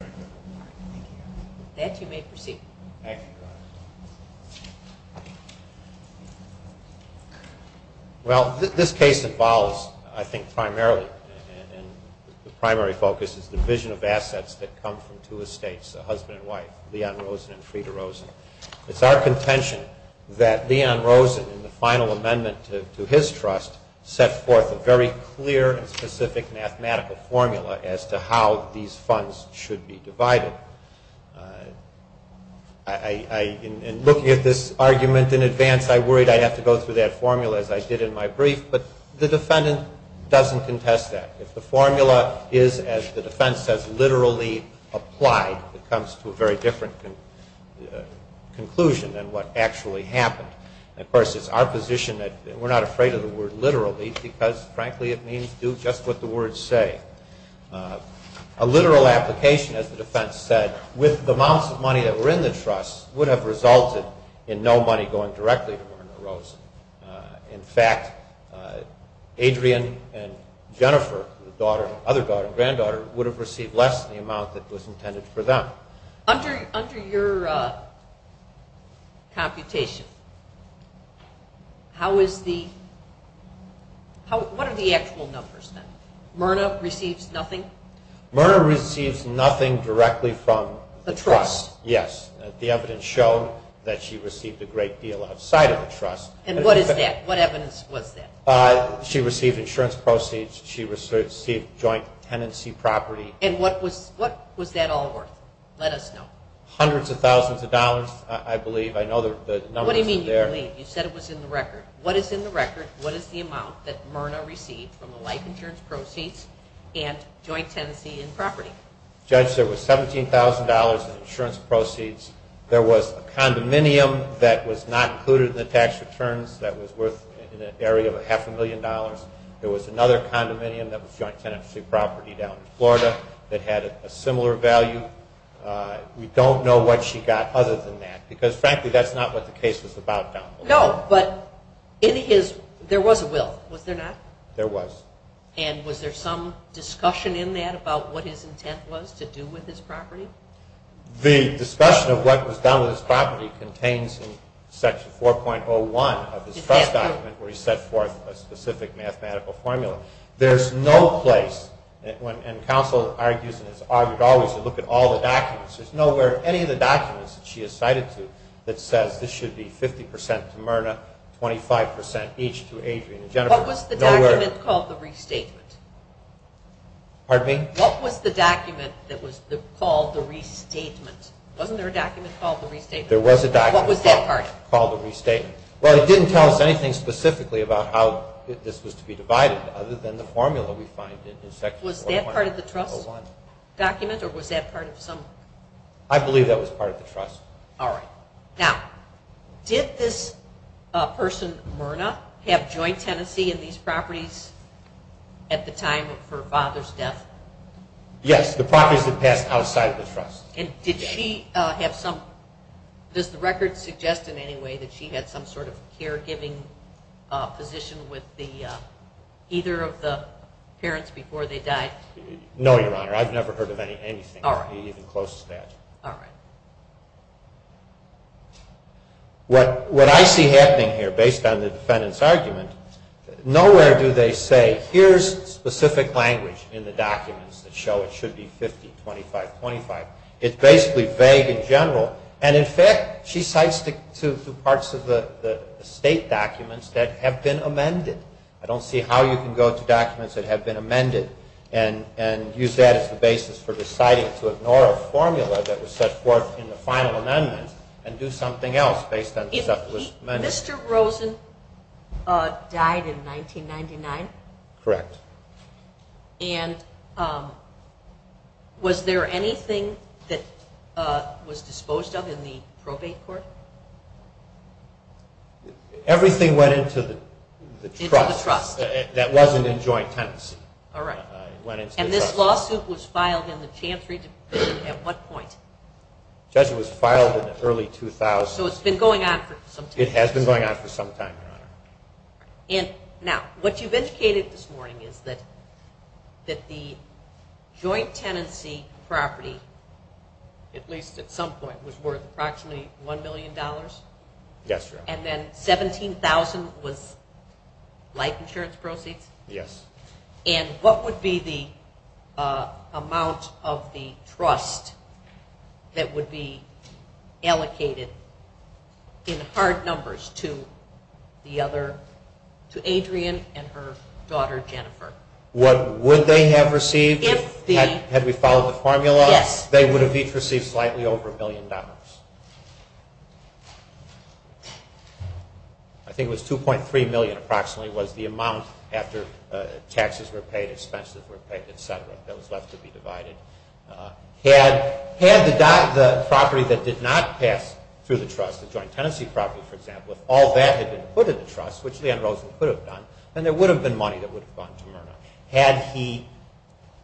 It is our contention that Leon Rosen, in the final amendment to his trust, set forth a very clear and specific mathematical formula as to how these funds should be divided. In looking at this argument in advance, I worried I'd have to go through that formula as I did in my brief, but the defendant doesn't contest that. If the formula is, as the defense says, literally applied, it comes to a very different conclusion than what actually happened. Of course, it's our position that we're not afraid of the word literally because, frankly, we're not afraid of the word literally. Frankly, it means do just what the words say. A literal application, as the defense said, with the amounts of money that were in the trust would have resulted in no money going directly to Werner Rosen. In fact, Adrian and Jennifer, the other daughter and granddaughter, would have received less than the amount that was intended for them. Under your computation, what are the actual numbers? Werner receives nothing? Werner receives nothing directly from the trust. The evidence showed that she received a great deal outside of the trust. What evidence was that? She received insurance proceeds. She received joint tenancy property. And what was that all worth? Let us know. Hundreds of thousands of dollars, I believe. I know the numbers are there. What do you mean you believe? You said it was in the record. What is in the record? What is the amount that Werner received from the life insurance proceeds and joint tenancy and property? Judge, there was $17,000 in insurance proceeds. There was a condominium that was not included in the tax returns that was worth an area of half a million dollars. There was another condominium that was joint tenancy property down in Florida that had a similar value. We don't know what she got other than that because, frankly, that's not what the case is about down below. No, but there was a will, was there not? There was. And was there some discussion in that about what his intent was to do with his property? The discussion of what was done with his property contains in section 4.01 of his trust document where he set forth a specific mathematical formula. There's no place, and counsel argues and has argued always, to look at all the documents. There's nowhere in any of the documents that she has cited to that says this should be 50% to Werner, 25% each to Adrian and Jennifer. What was the document called the restatement? Pardon me? What was the document that was called the restatement? Wasn't there a document called the restatement? There was a document. What was that part? Called the restatement. Well, it didn't tell us anything specifically about how this was to be divided other than the formula we find in section 4.01. Was that part of the trust document or was that part of some... I believe that was part of the trust. Now, did this person, Werner, have joint tenancy in these properties at the time of her father's death? Yes, the properties had passed outside the trust. And did she have some... does the record suggest in any way that she had some sort of caregiving position with either of the parents before they died? No, Your Honor. I've never heard of anything even close to that. All right. What I see happening here, based on the defendant's argument, nowhere do they say, here's specific language in the documents that show it should be 50, 25, 25. It's basically vague in general. And in fact, she cites through parts of the state documents that have been amended. I don't see how you can go to documents that have been amended and use that as the basis for deciding to ignore a formula that was set forth in the final amendment and do something else based on the stuff that was amended. Mr. Rosen died in 1999? Correct. And was there anything that was disposed of in the probate court? Everything went into the trust. Into the trust. That wasn't in joint tenancy. All right. And this lawsuit was filed in the Chantry Division at what point? Judge, it was filed in the early 2000s. So it's been going on for some time. It has been going on for some time, Your Honor. Now, what you've indicated this morning is that the joint tenancy property, at least at some point, was worth approximately $1 million? Yes, Your Honor. And then $17,000 was life insurance proceeds? Yes. And what would be the amount of the trust that would be allocated in hard numbers to Adrian and her daughter Jennifer? What would they have received had we followed the formula? Yes. They would have each received slightly over $1 million. I think it was $2.3 million, approximately, was the amount after taxes were paid, expenses were paid, et cetera, that was left to be divided. Had the property that did not pass through the trust, the joint tenancy property, for example, if all that had been put in the trust, which Leon Rosen could have done, then there would have been money that would have gone to Myrna. Had he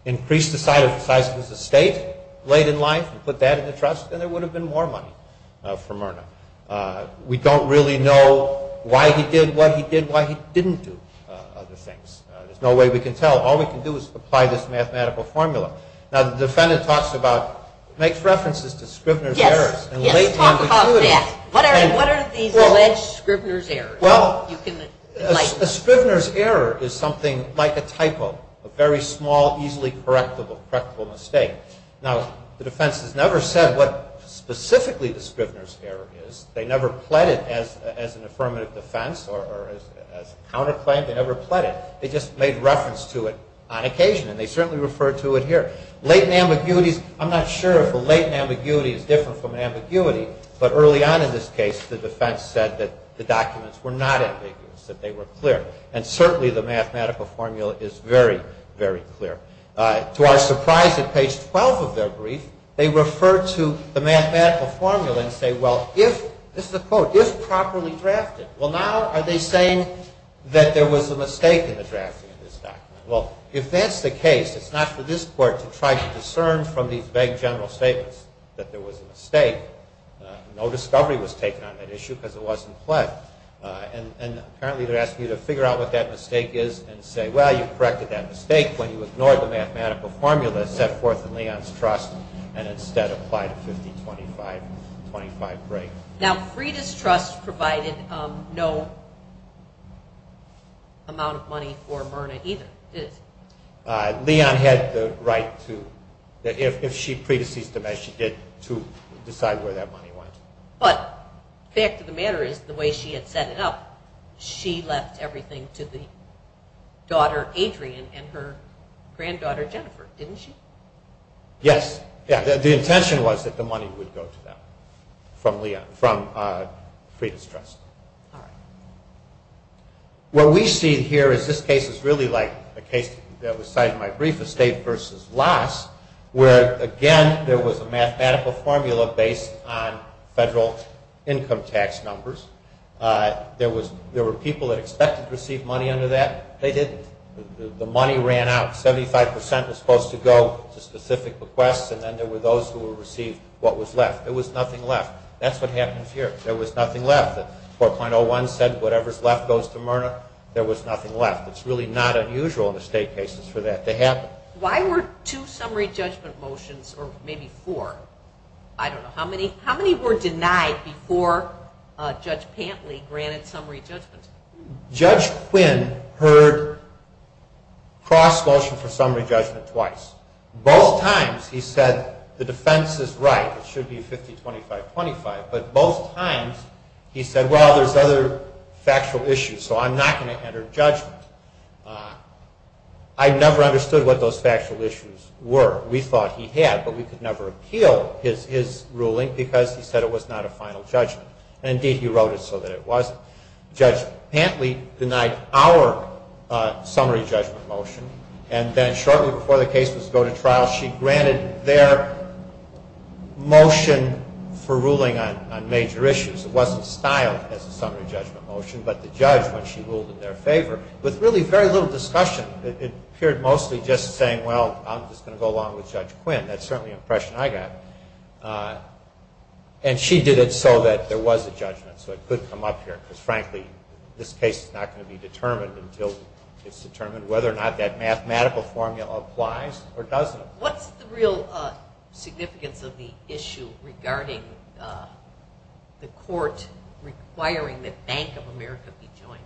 increased the size of his estate late in life and put that in the trust, then there would have been more money for Myrna. We don't really know why he did what he did, why he didn't do other things. There's no way we can tell. All we can do is apply this mathematical formula. Now, the defendant makes references to Scrivener's errors. Yes, talk about that. What are these alleged Scrivener's errors? Well, a Scrivener's error is something like a typo, a very small, easily correctable mistake. Now, the defense has never said what specifically the Scrivener's error is. They never pled it as an affirmative defense or as a counterclaim. They never pled it. They just made reference to it on occasion, and they certainly refer to it here. Latent ambiguities, I'm not sure if a latent ambiguity is different from an ambiguity, but early on in this case, the defense said that the documents were not ambiguous, that they were clear, and certainly the mathematical formula is very, very clear. To our surprise, at page 12 of their brief, they refer to the mathematical formula and say, well, if, this is a quote, if properly drafted, well, now are they saying that there was a mistake in the drafting of this document? Well, if that's the case, it's not for this court to try to discern from these vague general statements that there was a mistake. No discovery was taken on that issue because it wasn't pled. And apparently they're asking you to figure out what that mistake is and say, well, you corrected that mistake when you ignored the mathematical formula set forth in Leon's trust and instead applied a 50-25-25 break. Now, Frieda's trust provided no amount of money for Myrna either. Leon had the right to, if she predeceased him as she did, to decide where that money went. But the fact of the matter is, the way she had set it up, she left everything to the daughter, Adrian, and her granddaughter, Jennifer, didn't she? Yes, the intention was that the money would go to them from Frieda's trust. What we see here is this case is really like a case that was cited in my brief, estate versus loss, where, again, there was a mathematical formula based on federal income tax numbers. There were people that expected to receive money under that. They didn't. The money ran out. Seventy-five percent was supposed to go to specific requests, and then there were those who received what was left. There was nothing left. That's what happens here. There was nothing left. 4.01 said whatever's left goes to Myrna. There was nothing left. It's really not unusual in estate cases for that to happen. Why were two summary judgment motions, or maybe four? I don't know. How many were denied before Judge Pantley granted summary judgment? Judge Quinn heard cross-motion for summary judgment twice. Both times he said the defense is right, it should be 50-25-25, but both times he said, well, there's other factual issues, so I'm not going to enter judgment. I never understood what those factual issues were. We thought he had, but we could never appeal his ruling because he said it was not a final judgment. Indeed, he wrote it so that it wasn't. Judge Pantley denied our summary judgment motion, and then shortly before the case was to go to trial, she granted their motion for ruling on major issues. It wasn't styled as a summary judgment motion, but the judge, when she ruled in their favor, with really very little discussion, it appeared mostly just saying, well, I'm just going to go along with Judge Quinn. That's certainly the impression I got. And she did it so that there was a judgment, so it could come up here, because, frankly, this case is not going to be determined until it's determined whether or not that mathematical formula applies or doesn't. What's the real significance of the issue regarding the court requiring that Bank of America be joined?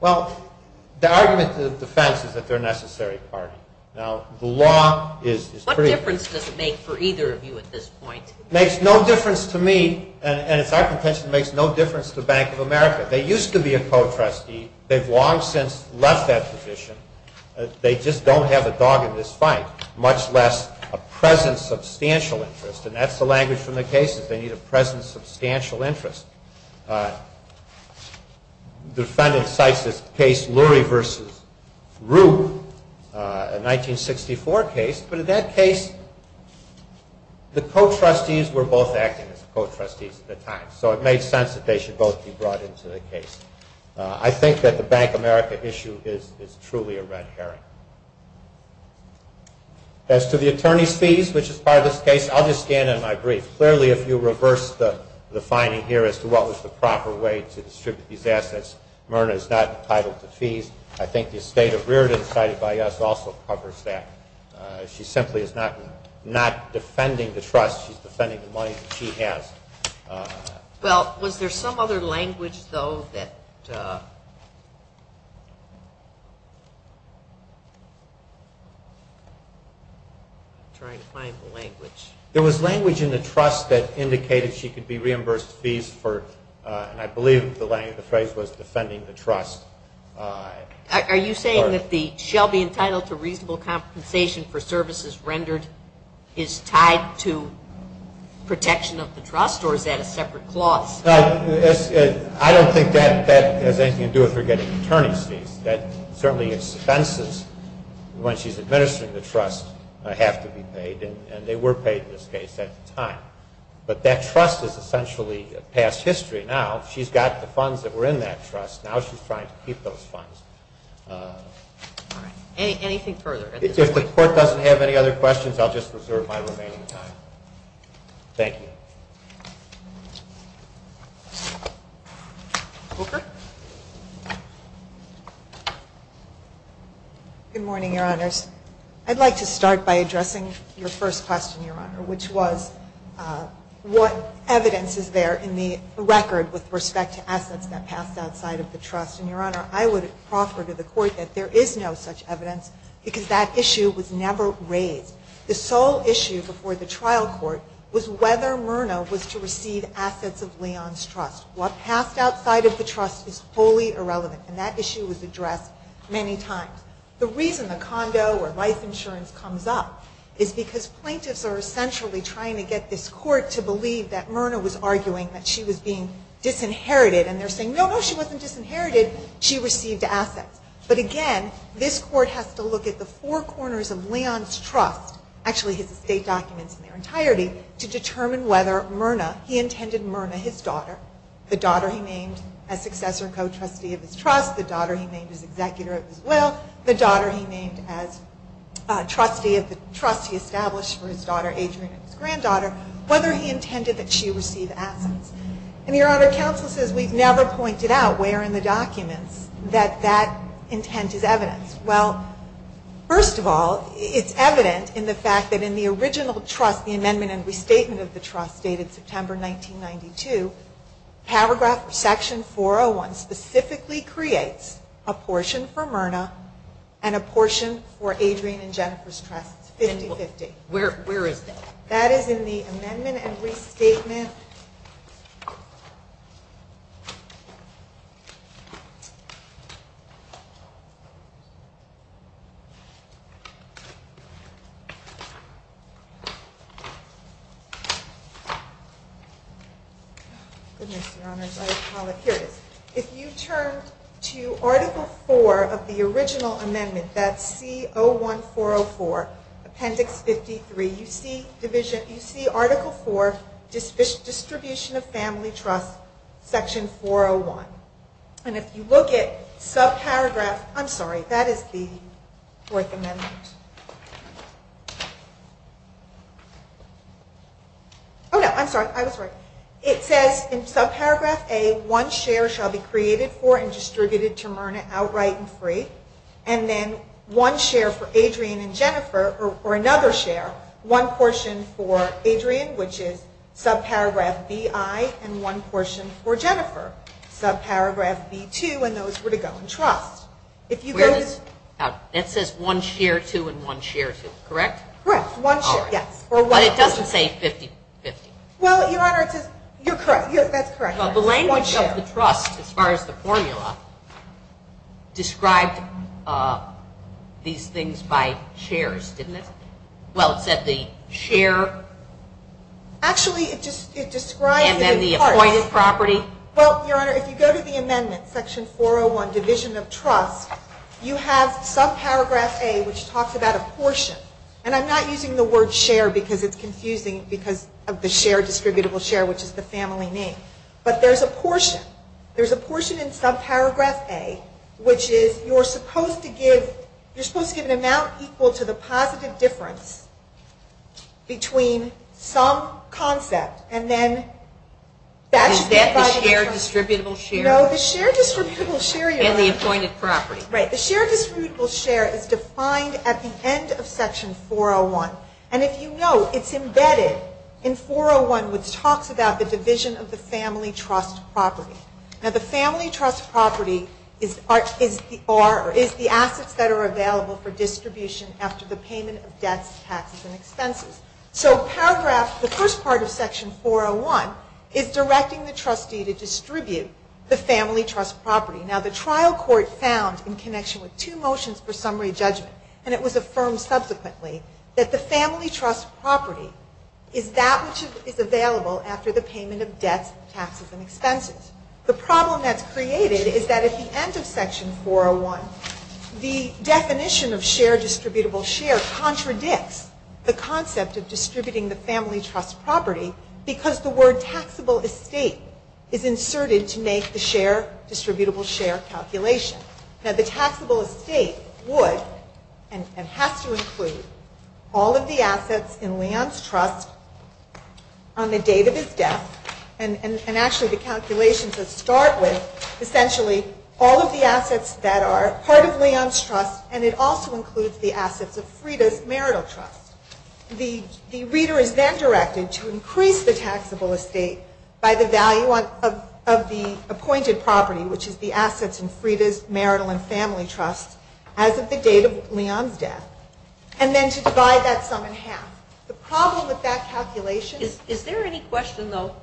Well, the argument to the defense is that they're a necessary party. What difference does it make for either of you at this point? It makes no difference to me, and it's our contention, it makes no difference to Bank of America. They used to be a co-trustee. They've long since left that position. They just don't have a dog in this fight, much less a present substantial interest, and that's the language from the case is they need a present substantial interest. The defendant cites this case, Lurie v. Rube, a 1964 case, but in that case the co-trustees were both acting as co-trustees at the time, so it made sense that they should both be brought into the case. I think that the Bank of America issue is truly a red herring. As to the attorney's fees, which is part of this case, I'll just stand on my brief. Clearly, if you reverse the finding here as to what was the proper way to distribute these assets, Myrna is not entitled to fees. I think the estate of Riordan cited by us also covers that. She simply is not defending the trust. She's defending the money that she has. Well, was there some other language, though, that... I'm trying to find the language. There was language in the trust that indicated she could be reimbursed fees for, and I believe the phrase was defending the trust. Are you saying that the shall be entitled to reasonable compensation for services rendered is tied to protection of the trust, or is that a separate clause? No, I don't think that has anything to do with her getting attorney's fees. Certainly expenses, when she's administering the trust, have to be paid, and they were paid in this case at the time. But that trust is essentially past history now. She's got the funds that were in that trust. Now she's trying to keep those funds. Anything further? If the court doesn't have any other questions, I'll just reserve my remaining time. Thank you. Good morning, Your Honors. What evidence is there in the record with respect to assets that passed outside of the trust? And, Your Honor, I would proffer to the court that there is no such evidence, because that issue was never raised. The sole issue before the trial court was whether Myrna was to receive assets of Leon's trust. What passed outside of the trust is wholly irrelevant, and that issue was addressed many times. The reason the condo or life insurance comes up is because plaintiffs are essentially trying to get this court to believe that Myrna was arguing that she was being disinherited, and they're saying, no, no, she wasn't disinherited. She received assets. But again, this court has to look at the four corners of Leon's trust, actually his estate documents in their entirety, to determine whether Myrna, he intended Myrna his daughter, the daughter he named as successor and co-trustee of his trust, the daughter he named as executor of his will, the daughter he named as trustee of the trust he established for his daughter Adrienne, his granddaughter, whether he intended that she receive assets. And, Your Honor, counsel says we've never pointed out where in the documents that that intent is evidenced. Well, first of all, it's evident in the fact that in the original trust, the amendment and restatement of the trust dated September 1992, paragraph section 401 specifically creates a portion for Myrna and a portion for Adrienne and Jennifer's trust, 50-50. Where is that? That is in the amendment and restatement. Here it is. If you turn to Article 4 of the original amendment, that's C-01-404, Appendix 53, you see Article 4, Distribution of Family Trust, Section 401. And if you look at subparagraph, I'm sorry, that is the Fourth Amendment. Oh, no, I'm sorry. It says in subparagraph A, one share shall be created for and distributed to Myrna outright and free, and then one share for Adrienne and Jennifer, or another share, one portion for Adrienne, which is subparagraph B-I, and one portion for Jennifer, subparagraph B-2, and those were to go in trust. That says one share two and one share two, correct? Correct, one share, yes. But it doesn't say 50-50. Well, Your Honor, you're correct. That's correct. The language of the trust, as far as the formula, described these things by shares, didn't it? Well, it said the share. Actually, it just describes it in parts. And then the appointed property. Well, Your Honor, if you go to the amendment, Section 401, Division of Trust, you have subparagraph A, which talks about a portion, and I'm not using the word share because it's confusing because of the share, distributable share, which is the family name, but there's a portion. There's a portion in subparagraph A, which is you're supposed to give an amount equal to the positive difference between some concept and then that should be divided. Is that the share, distributable share? No, the share, distributable share, Your Honor. And the appointed property. The share, distributable share is defined at the end of Section 401. And if you know, it's embedded in 401, which talks about the division of the family trust property. Now, the family trust property is the assets that are available for distribution after the payment of debts, taxes, and expenses. So paragraph, the first part of Section 401 is directing the trustee to distribute the family trust property. Now, the trial court found in connection with two motions for summary judgment, and it was affirmed subsequently, that the family trust property is that which is available after the payment of debts, taxes, and expenses. The problem that's created is that at the end of Section 401, the definition of share, distributable share contradicts the concept of distributing the family trust property because the word taxable estate is inserted to make the share, distributable share calculation. Now, the taxable estate would and has to include all of the assets in Leon's trust on the date of his death and actually the calculations that start with essentially all of the assets that are part of Leon's trust and it also includes the assets of Frida's marital trust. The reader is then directed to increase the taxable estate by the value of the appointed property, which is the assets in Frida's marital and family trust as of the date of Leon's death and then to divide that sum in half. The problem with that calculation... Is there any question, though?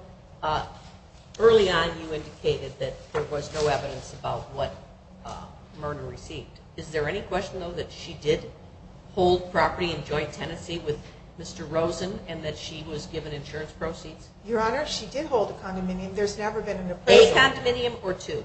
Early on you indicated that there was no evidence about what Myrna received. Is there any question, though, that she did hold property in joint tenancy with Mr. Rosen and that she was given insurance proceeds? Your Honor, she did hold a condominium. There's never been an appraisal. A condominium or two?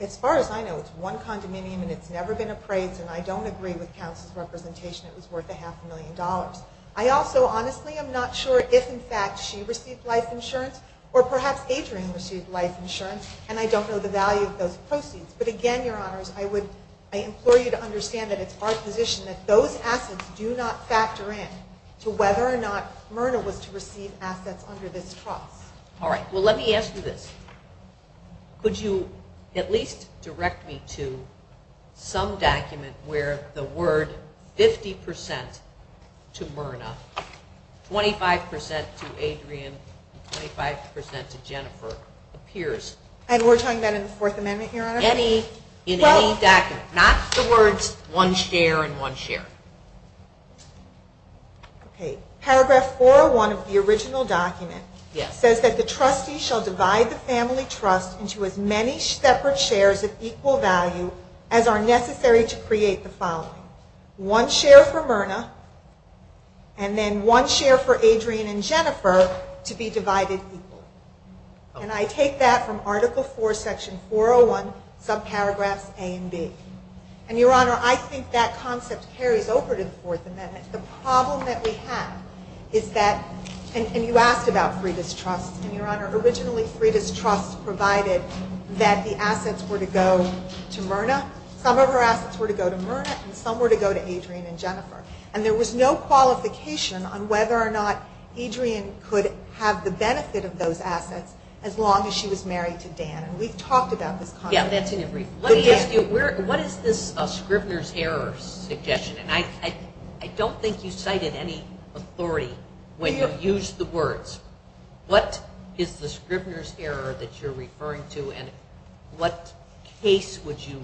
As far as I know, it's one condominium and it's never been appraised and I don't agree with counsel's representation it was worth a half a million dollars. I also honestly am not sure if in fact she received life insurance or perhaps Adrian received life insurance and I don't know the value of those proceeds. But again, Your Honors, I implore you to understand that it's our position that those assets do not factor in to whether or not Myrna was to receive assets under this trust. All right. Well, let me ask you this. Could you at least direct me to some document where the word 50% to Myrna, 25% to Adrian, and 25% to Jennifer appears? And we're talking about in the Fourth Amendment, Your Honor? In any document. Not the words one share and one share. Okay. Paragraph 401 of the original document says that the trustee shall divide the family trust into as many separate shares of equal value as are necessary to create the following. One share for Myrna and then one share for Adrian and Jennifer to be divided equally. And I take that from Article 4, Section 401, subparagraphs A and B. And, Your Honor, I think that concept carries over to the Fourth Amendment. The problem that we have is that, and you asked about Frieda's trust, and, Your Honor, originally Frieda's trust provided that the assets were to go to Myrna. Some of her assets were to go to Myrna and some were to go to Adrian and Jennifer. And there was no qualification on whether or not Adrian could have the benefit of those assets as long as she was married to Dan. And we've talked about this concept. Yeah, that's in your brief. Let me ask you, what is this Scrivener's Error suggestion? And I don't think you cited any authority when you used the words. What is the Scrivener's Error that you're referring to and what case would you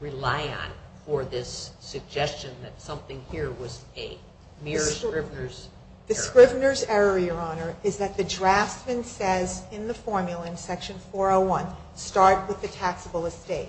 rely on for this suggestion that something here was a mere Scrivener's Error? The Scrivener's Error, Your Honor, is that the draftsman says in the formula in Section 401, start with the taxable estate.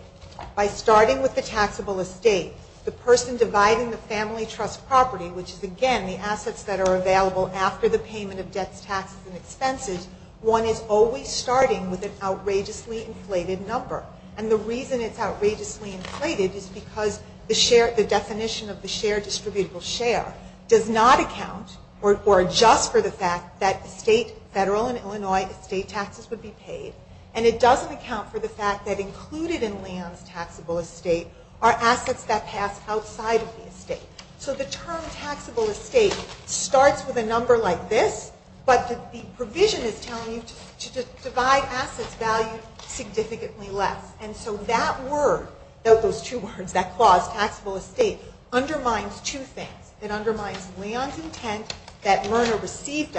By starting with the taxable estate, the person dividing the family trust property, which is, again, the assets that are available after the payment of debts, taxes, and expenses, one is always starting with an outrageously inflated number. And the reason it's outrageously inflated is because the definition of the shared distributable share does not account or adjust for the fact that state, federal, and Illinois estate taxes would be paid. And it doesn't account for the fact that included in Leigh Ann's taxable estate are assets that pass outside of the estate. So the term taxable estate starts with a number like this, but the provision is telling you to divide assets valued significantly less. And so that word, those two words, that clause, taxable estate, undermines two things. It undermines Leigh Ann's intent that Myrna receive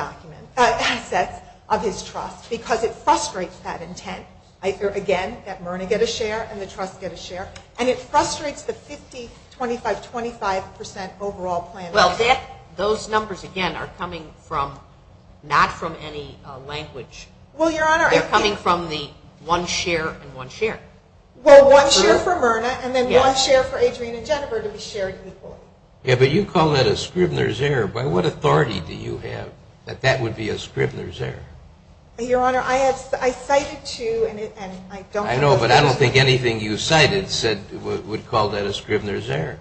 assets of his trust because it frustrates that intent, again, that Myrna get a share and the trust get a share, and it frustrates the 50, 25, 25 percent overall plan. Well, those numbers, again, are coming not from any language. They're coming from the one share and one share. Well, one share for Myrna and then one share for Adrienne and Jennifer to be shared equally. Yeah, but you call that a Scribner's error. By what authority do you have that that would be a Scribner's error? Your Honor, I cited two, and I don't think those are the same. I know, but I don't think anything you cited would call that a Scribner's error.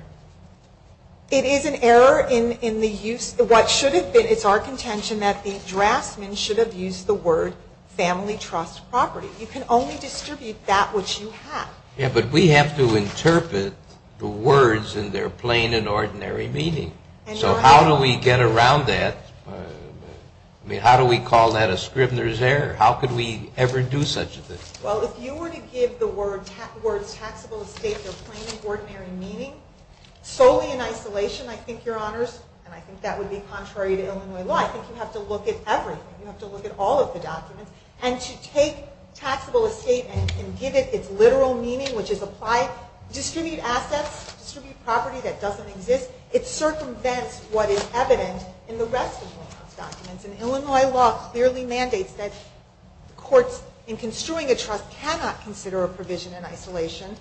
It is an error in the use of what should have been. It's our contention that the draftsman should have used the word family trust property. You can only distribute that which you have. Yeah, but we have to interpret the words in their plain and ordinary meaning. So how do we get around that? I mean, how do we call that a Scribner's error? How could we ever do such a thing? Well, if you were to give the words taxable estate their plain and ordinary meaning, solely in isolation, I think, Your Honors, and I think that would be contrary to Illinois law, I think you have to look at everything. You have to look at all of the documents. And to take taxable estate and give it its literal meaning, which is apply, distribute assets, distribute property that doesn't exist, it circumvents what is evident in the rest of the documents. And Illinois law clearly mandates that courts, in construing a trust, cannot consider a provision in isolation.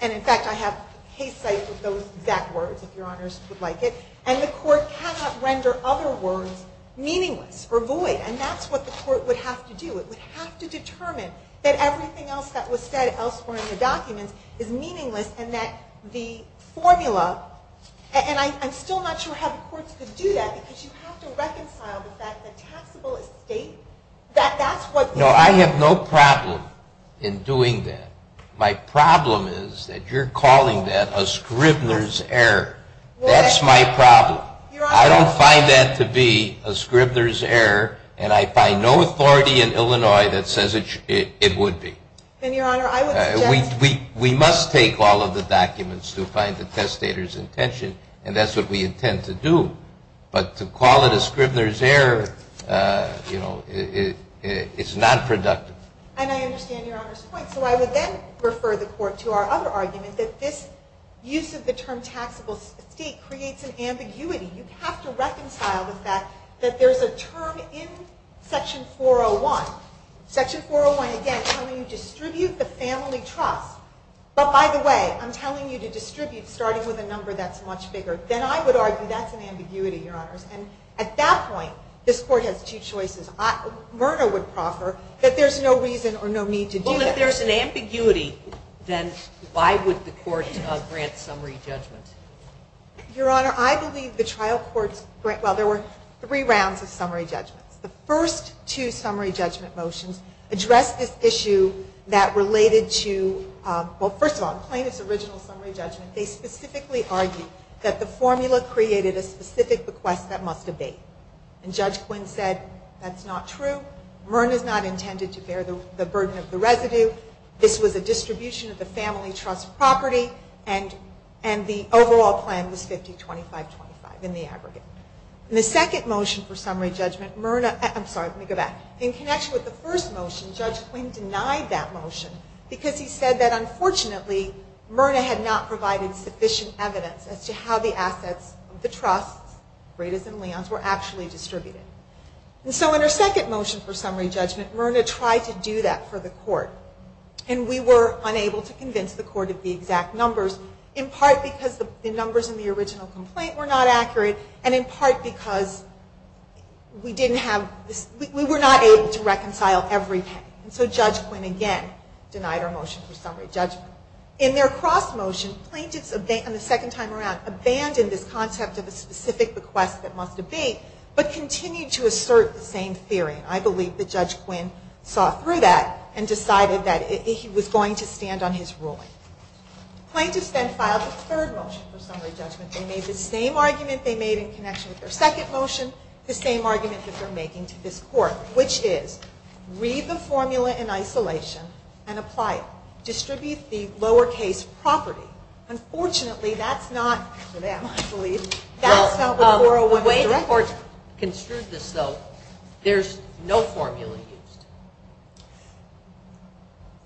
And, in fact, I have case sites with those exact words, if Your Honors would like it. And the court cannot render other words meaningless or void. And that's what the court would have to do. It would have to determine that everything else that was said elsewhere in the documents is meaningless and that the formula – and I'm still not sure how the courts could do that because you have to reconcile the fact that taxable estate, that that's what – No, I have no problem in doing that. My problem is that you're calling that a Scribner's error. That's my problem. I don't find that to be a Scribner's error, and I find no authority in Illinois that says it would be. Then, Your Honor, I would suggest – We must take all of the documents to find the testator's intention, and that's what we intend to do. But to call it a Scribner's error, you know, it's not productive. And I understand Your Honor's point. So I would then refer the court to our other argument that this use of the term taxable estate creates an ambiguity. You have to reconcile the fact that there's a term in Section 401. Section 401, again, telling you distribute the family trust. But, by the way, I'm telling you to distribute starting with a number that's much bigger. Then I would argue that's an ambiguity, Your Honors. And at that point, this court has two choices. Myrna would proffer that there's no reason or no need to do that. Well, if there's an ambiguity, then why would the court grant summary judgment? Your Honor, I believe the trial court's – well, there were three rounds of summary judgments. The first two summary judgment motions addressed this issue that related to – well, first of all, plain as original summary judgment, they specifically argued that the formula created a specific bequest that must abate. And Judge Quinn said that's not true. Myrna's not intended to bear the burden of the residue. This was a distribution of the family trust property, and the overall plan was 50-25-25 in the aggregate. In the second motion for summary judgment, Myrna – I'm sorry, let me go back. In connection with the first motion, Judge Quinn denied that motion because he said that, unfortunately, Myrna had not provided sufficient evidence as to how the assets of the trusts, Bredas and Leons, were actually distributed. And so in her second motion for summary judgment, Myrna tried to do that for the court. And we were unable to convince the court of the exact numbers, in part because the numbers in the original complaint were not accurate, and in part because we didn't have – we were not able to reconcile everything. And so Judge Quinn, again, denied our motion for summary judgment. In their cross-motion, plaintiffs, on the second time around, abandoned this concept of a specific bequest that must abate, but continued to assert the same theory. And I believe that Judge Quinn saw through that and decided that he was going to stand on his ruling. Plaintiffs then filed the third motion for summary judgment. They made the same argument they made in connection with their second motion, the same argument that they're making to this court, which is read the formula in isolation and apply it. Distribute the lower-case property. Unfortunately, that's not for them, I believe. Well, the way the court construed this, though, there's no formula used.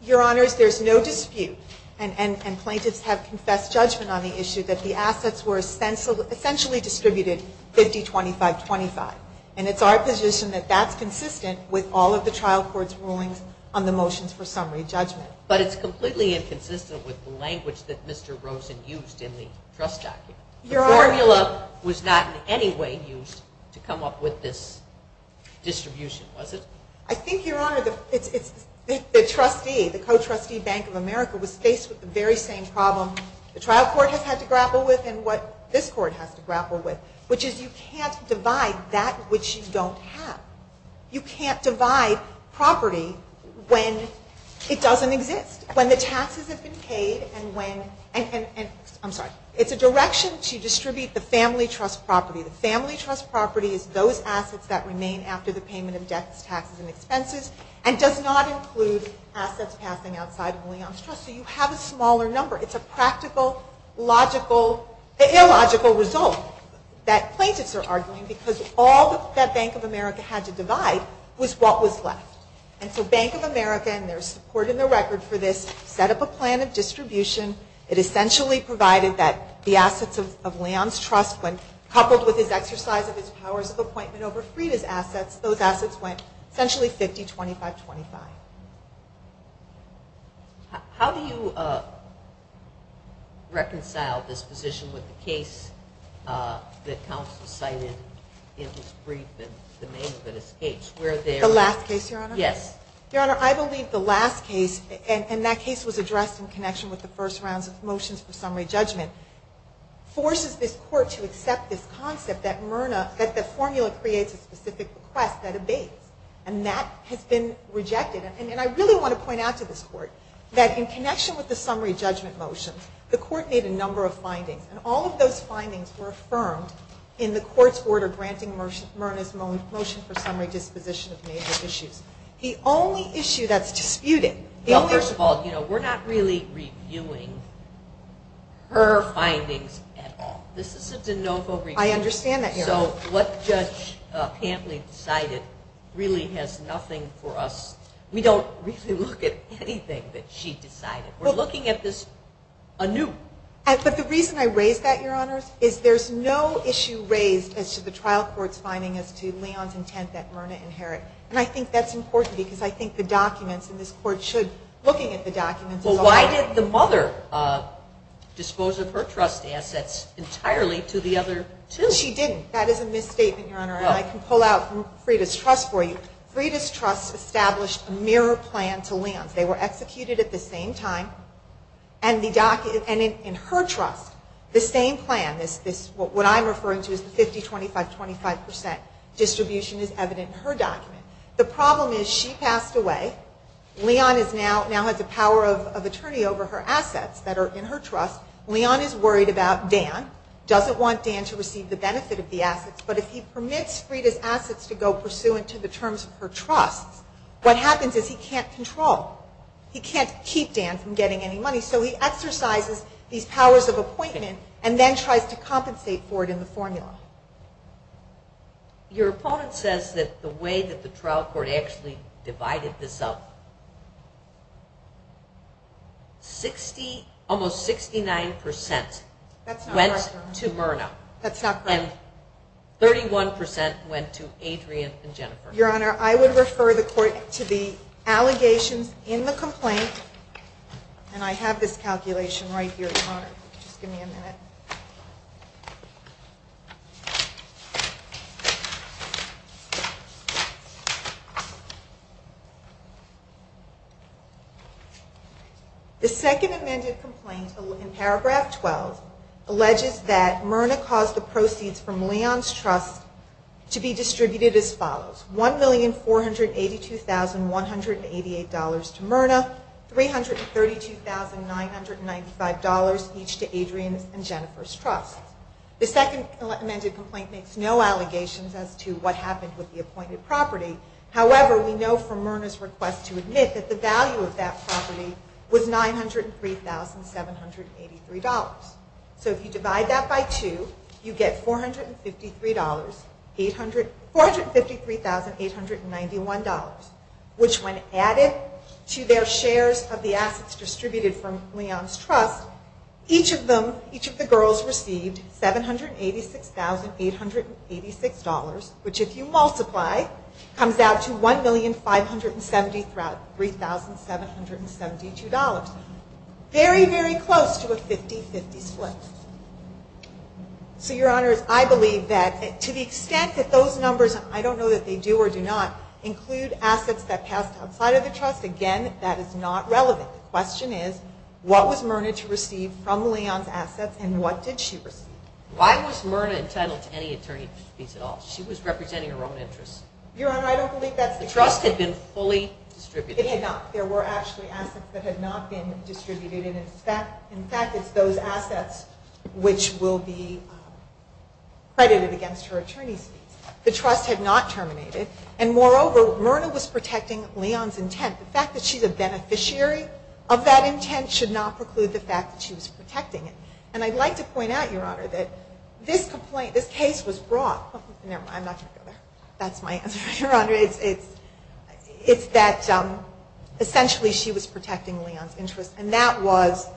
Your Honors, there's no dispute, and plaintiffs have confessed judgment on the issue that the assets were essentially distributed 50-25-25. And it's our position that that's consistent with all of the trial court's rulings on the motions for summary judgment. But it's completely inconsistent with the language that Mr. Rosen used in the trust document. Your Honor. The formula was not in any way used to come up with this distribution, was it? I think, Your Honor, the trustee, the co-trustee Bank of America, was faced with the very same problem the trial court has had to grapple with and what this court has to grapple with, which is you can't divide that which you don't have. You can't divide property when it doesn't exist, when the taxes have been paid and when... I'm sorry. It's a direction to distribute the family trust property. The family trust property is those assets that remain after the payment of debts, taxes, and expenses and does not include assets passing outside of Leon's trust. So you have a smaller number. It's a practical, logical, illogical result that plaintiffs are arguing because all that Bank of America had to divide was what was left. And so Bank of America, and there's support in the record for this, set up a plan of distribution. It essentially provided that the assets of Leon's trust, when coupled with his exercise of his powers of appointment over Frieda's assets, those assets went essentially 50-25-25. How do you reconcile this position with the case that counsel cited in his brief and the name of it escapes? The last case, Your Honor? Yes. Your Honor, I believe the last case, and that case was addressed in connection with the first rounds of motions for summary judgment, forces this court to accept this concept that the formula creates a specific request that abates. And that has been rejected. And I really want to point out to this court that in connection with the summary judgment motion, the court made a number of findings. And all of those findings were affirmed in the court's order granting Myrna's motion for summary disposition of major issues. The only issue that's disputed... Well, first of all, we're not really reviewing her findings at all. This is a de novo review. I understand that, Your Honor. So what Judge Pampley decided really has nothing for us. We don't really look at anything that she decided. We're looking at this anew. But the reason I raise that, Your Honor, is there's no issue raised as to the trial court's finding as to Leon's intent that Myrna inherit. And I think that's important because I think the documents, and this court should, looking at the documents... Well, why did the mother dispose of her trust assets entirely to the other two? Because she didn't. That is a misstatement, Your Honor. And I can pull out Frieda's trust for you. Frieda's trust established a mirror plan to Leon's. They were executed at the same time. And in her trust, the same plan, what I'm referring to as the 50-25-25 percent distribution is evident in her document. The problem is she passed away. Leon now has the power of attorney over her assets that are in her trust. Leon is worried about Dan, doesn't want Dan to receive the benefit of the assets. But if he permits Frieda's assets to go pursuant to the terms of her trust, what happens is he can't control, he can't keep Dan from getting any money. So he exercises these powers of appointment and then tries to compensate for it in the formula. Your opponent says that the way that the trial court actually divided this up, almost 69 percent went to Myrna. That's not correct. And 31 percent went to Adrian and Jennifer. Your Honor, I would refer the court to the allegations in the complaint. And I have this calculation right here, Your Honor. Just give me a minute. The second amended complaint in Paragraph 12 alleges that Myrna caused the proceeds from Leon's trust to be distributed as follows. $1,482,188 to Myrna, $332,995 each to Adrian's and Jennifer's trusts. The second amended complaint makes no allegations as to what happened with the appointed property. However, we know from Myrna's request to admit that the value of that property was $903,783. So if you divide that by 2, you get $453,891, which when added to their shares of the assets distributed from Leon's trust, each of the girls received $786,886, which if you multiply, comes out to $1,573,772. Very, very close to a 50-50 split. So, Your Honor, I believe that to the extent that those numbers, I don't know that they do or do not, include assets that passed outside of the trust, again, that is not relevant. The question is, what was Myrna to receive from Leon's assets and what did she receive? Why was Myrna entitled to any attorney's fees at all? She was representing her own interests. Your Honor, I don't believe that's the case. The trust had been fully distributed. It had not. There were actually assets that had not been distributed. In fact, it's those assets which will be credited against her attorney's fees. The trust had not terminated. And moreover, Myrna was protecting Leon's intent. The fact that she's a beneficiary of that intent should not preclude the fact that she was protecting it. And I'd like to point out, Your Honor, that this complaint, this case was brought. Never mind, I'm not going to go there. That's my answer, Your Honor. It's that essentially she was protecting Leon's interests and that was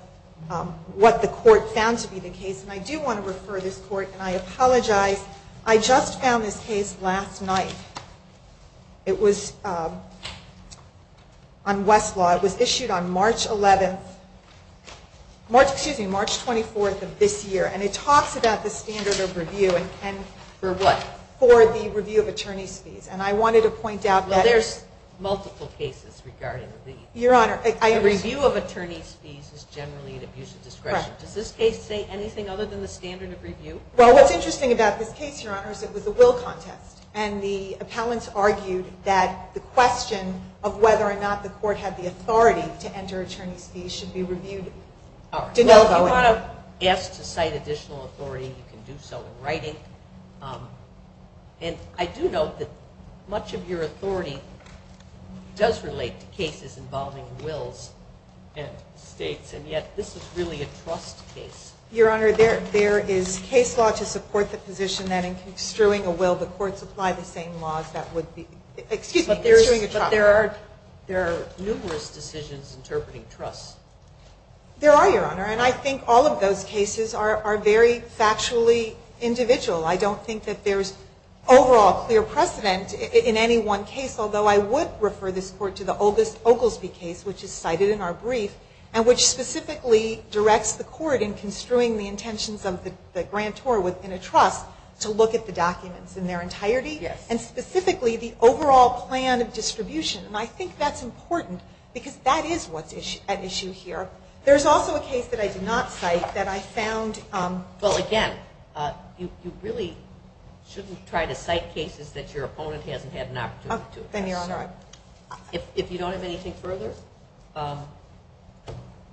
what the court found to be the case. And I do want to refer this court, and I apologize. I just found this case last night. It was on Westlaw. It was issued on March 11th. Excuse me, March 24th of this year. And it talks about the standard of review and can... For what? For the review of attorney's fees. And I wanted to point out that... Well, there's multiple cases regarding the... Your Honor, I... The review of attorney's fees is generally an abuse of discretion. Does this case say anything other than the standard of review? Well, what's interesting about this case, Your Honor, is it was a will contest. And the appellants argued that the question of whether or not the court had the authority to enter attorney's fees should be reviewed. If you want to ask to cite additional authority, you can do so in writing. And I do note that much of your authority does relate to cases involving wills and states, and yet this is really a trust case. Your Honor, there is case law to support the position that in extruing a will, the courts apply the same laws that would be... Excuse me, extruing a trust. But there are numerous decisions interpreting trusts. There are, Your Honor, and I think all of those cases are very factually individual. I don't think that there's overall clear precedent in any one case, although I would refer this Court to the oldest Oglesby case, which is cited in our brief and which specifically directs the Court in construing the intentions of the grantor within a trust to look at the documents in their entirety. Yes. And specifically the overall plan of distribution, and I think that's important because that is what's at issue here. There's also a case that I did not cite that I found... Well, again, you really shouldn't try to cite cases that your opponent hasn't had an opportunity to. Then, Your Honor, I... If you don't have anything further,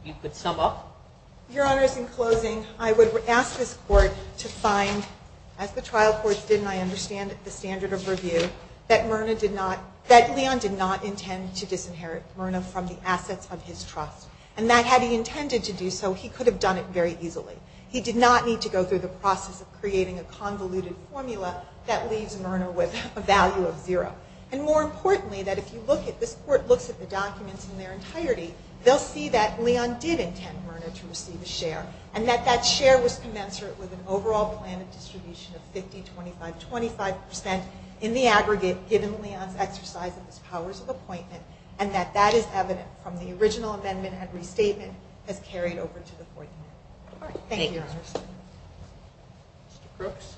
you could sum up. Your Honors, in closing, I would ask this Court to find, as the trial courts did and I understand at the standard of review, that Leon did not intend to disinherit Myrna from the assets of his trust, and that had he intended to do so, he could have done it very easily. He did not need to go through the process of creating a convoluted formula that leaves Myrna with a value of zero. And more importantly, that if you look at... this Court looks at the documents in their entirety, they'll see that Leon did intend Myrna to receive a share, and that that share was commensurate with an overall plan of distribution of 50%, 25%, 25% in the aggregate, given Leon's exercise of his powers of appointment, and that that is evident from the original amendment and restatement as carried over to the Fourth Amendment. Thank you, Your Honors. Mr. Brooks?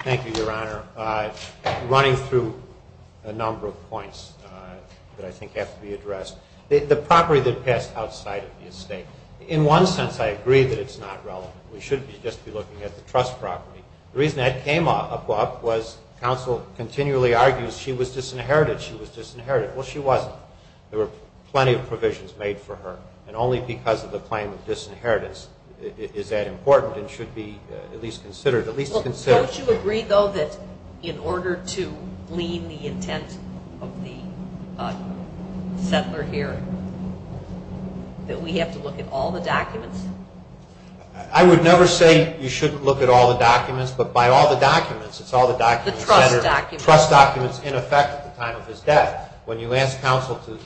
Thank you, Your Honor. Running through a number of points that I think have to be addressed. The property that passed outside of the estate, in one sense, I agree that it's not relevant. We should just be looking at the trust property. The reason that came up was counsel continually argues she was disinherited, she was disinherited. Well, she wasn't. There were plenty of provisions made for her, and only because of the claim of disinheritance is that important and should be at least considered. Well, don't you agree, though, that in order to glean the intent of the settler here, that we have to look at all the documents? I would never say you shouldn't look at all the documents, but by all the documents, it's all the documents. The trust documents. The trust documents, in effect, at the time of his death. When you ask counsel to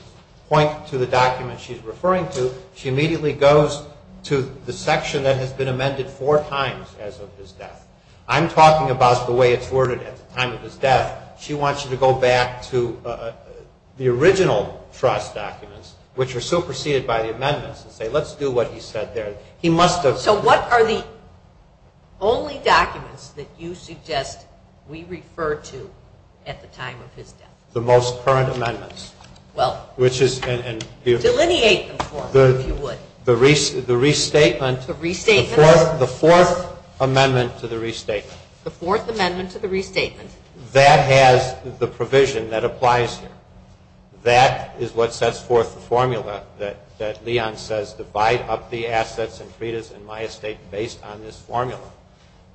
point to the document she's referring to, she immediately goes to the section that has been amended four times as of his death. I'm talking about the way it's worded at the time of his death. She wants you to go back to the original trust documents, which are superseded by the amendments and say, let's do what he said there. So what are the only documents that you suggest we refer to at the time of his death? The most current amendments. Well, delineate them for us, if you would. The restatement. The restatement. The fourth amendment to the restatement. The fourth amendment to the restatement. That has the provision that applies here. That is what sets forth the formula that Leon says, divide up the assets and credas and my estate based on this formula.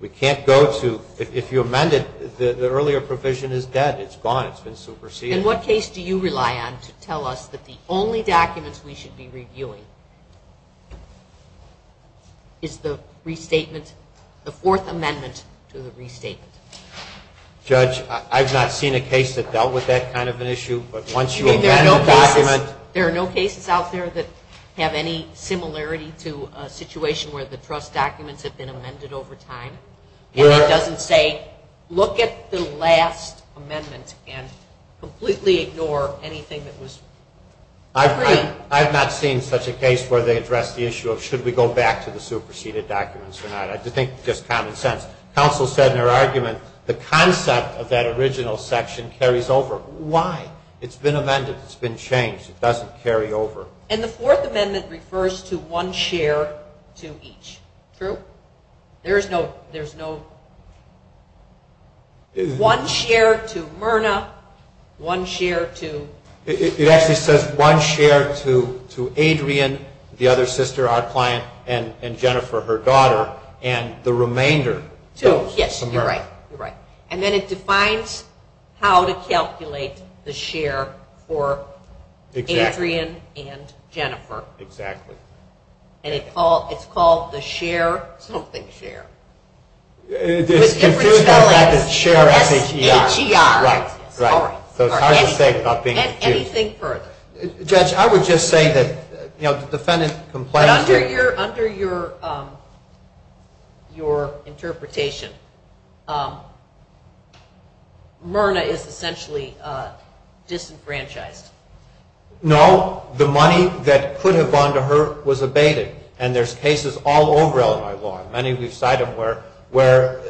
We can't go to, if you amend it, the earlier provision is dead. It's gone. It's been superseded. In what case do you rely on to tell us that the only documents we should be reviewing is the restatement, the fourth amendment to the restatement? Judge, I've not seen a case that dealt with that kind of an issue. There are no cases out there that have any similarity to a situation where the trust documents have been amended over time? And it doesn't say look at the last amendment and completely ignore anything that was agreed? I've not seen such a case where they address the issue of should we go back to the superseded documents or not. I think it's just common sense. Counsel said in her argument the concept of that original section carries over. Why? It's been amended. It's been changed. It doesn't carry over. And the fourth amendment refers to one share to each. True? There's no one share to Myrna, one share to... It actually says one share to Adrian, the other sister, our client, and Jennifer, her daughter, and the remainder to Myrna. Yes, you're right. And then it defines how to calculate the share for Adrian and Jennifer. Exactly. And it's called the share something share. With different spellings, S-H-E-R. Right, right. So it's hard to say without being confused. And anything further. Judge, I would just say that the defendant complains... But under your interpretation, Myrna is essentially disenfranchised. No, the money that could have gone to her was abated. And there's cases all over Illinois law, and many of you have cited them, where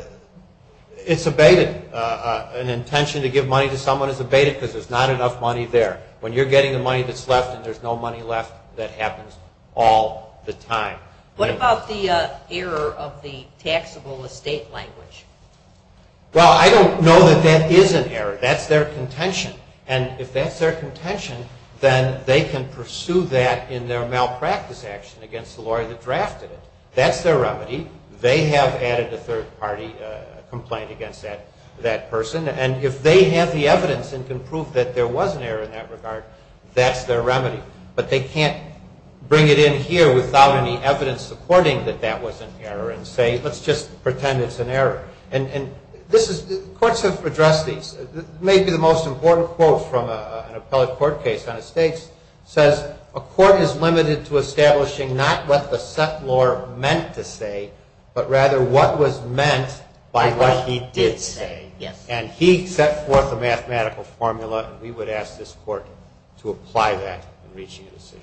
it's abated. An intention to give money to someone is abated because there's not enough money there. When you're getting the money that's left and there's no money left, that happens all the time. What about the error of the taxable estate language? Well, I don't know that that is an error. That's their contention. And if that's their contention, then they can pursue that in their malpractice action against the lawyer that drafted it. That's their remedy. They have added a third-party complaint against that person. And if they have the evidence and can prove that there was an error in that regard, that's their remedy. But they can't bring it in here without any evidence supporting that that was an error and say, let's just pretend it's an error. And courts have addressed these. Maybe the most important quote from an appellate court case on estates says, a court is limited to establishing not what the settlor meant to say, but rather what was meant by what he did say. And he set forth a mathematical formula, and we would ask this court to apply that in reaching a decision.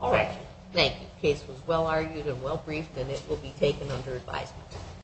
Thank you. Thank you. The case was well-argued and well-briefed, and it will be taken under advisement.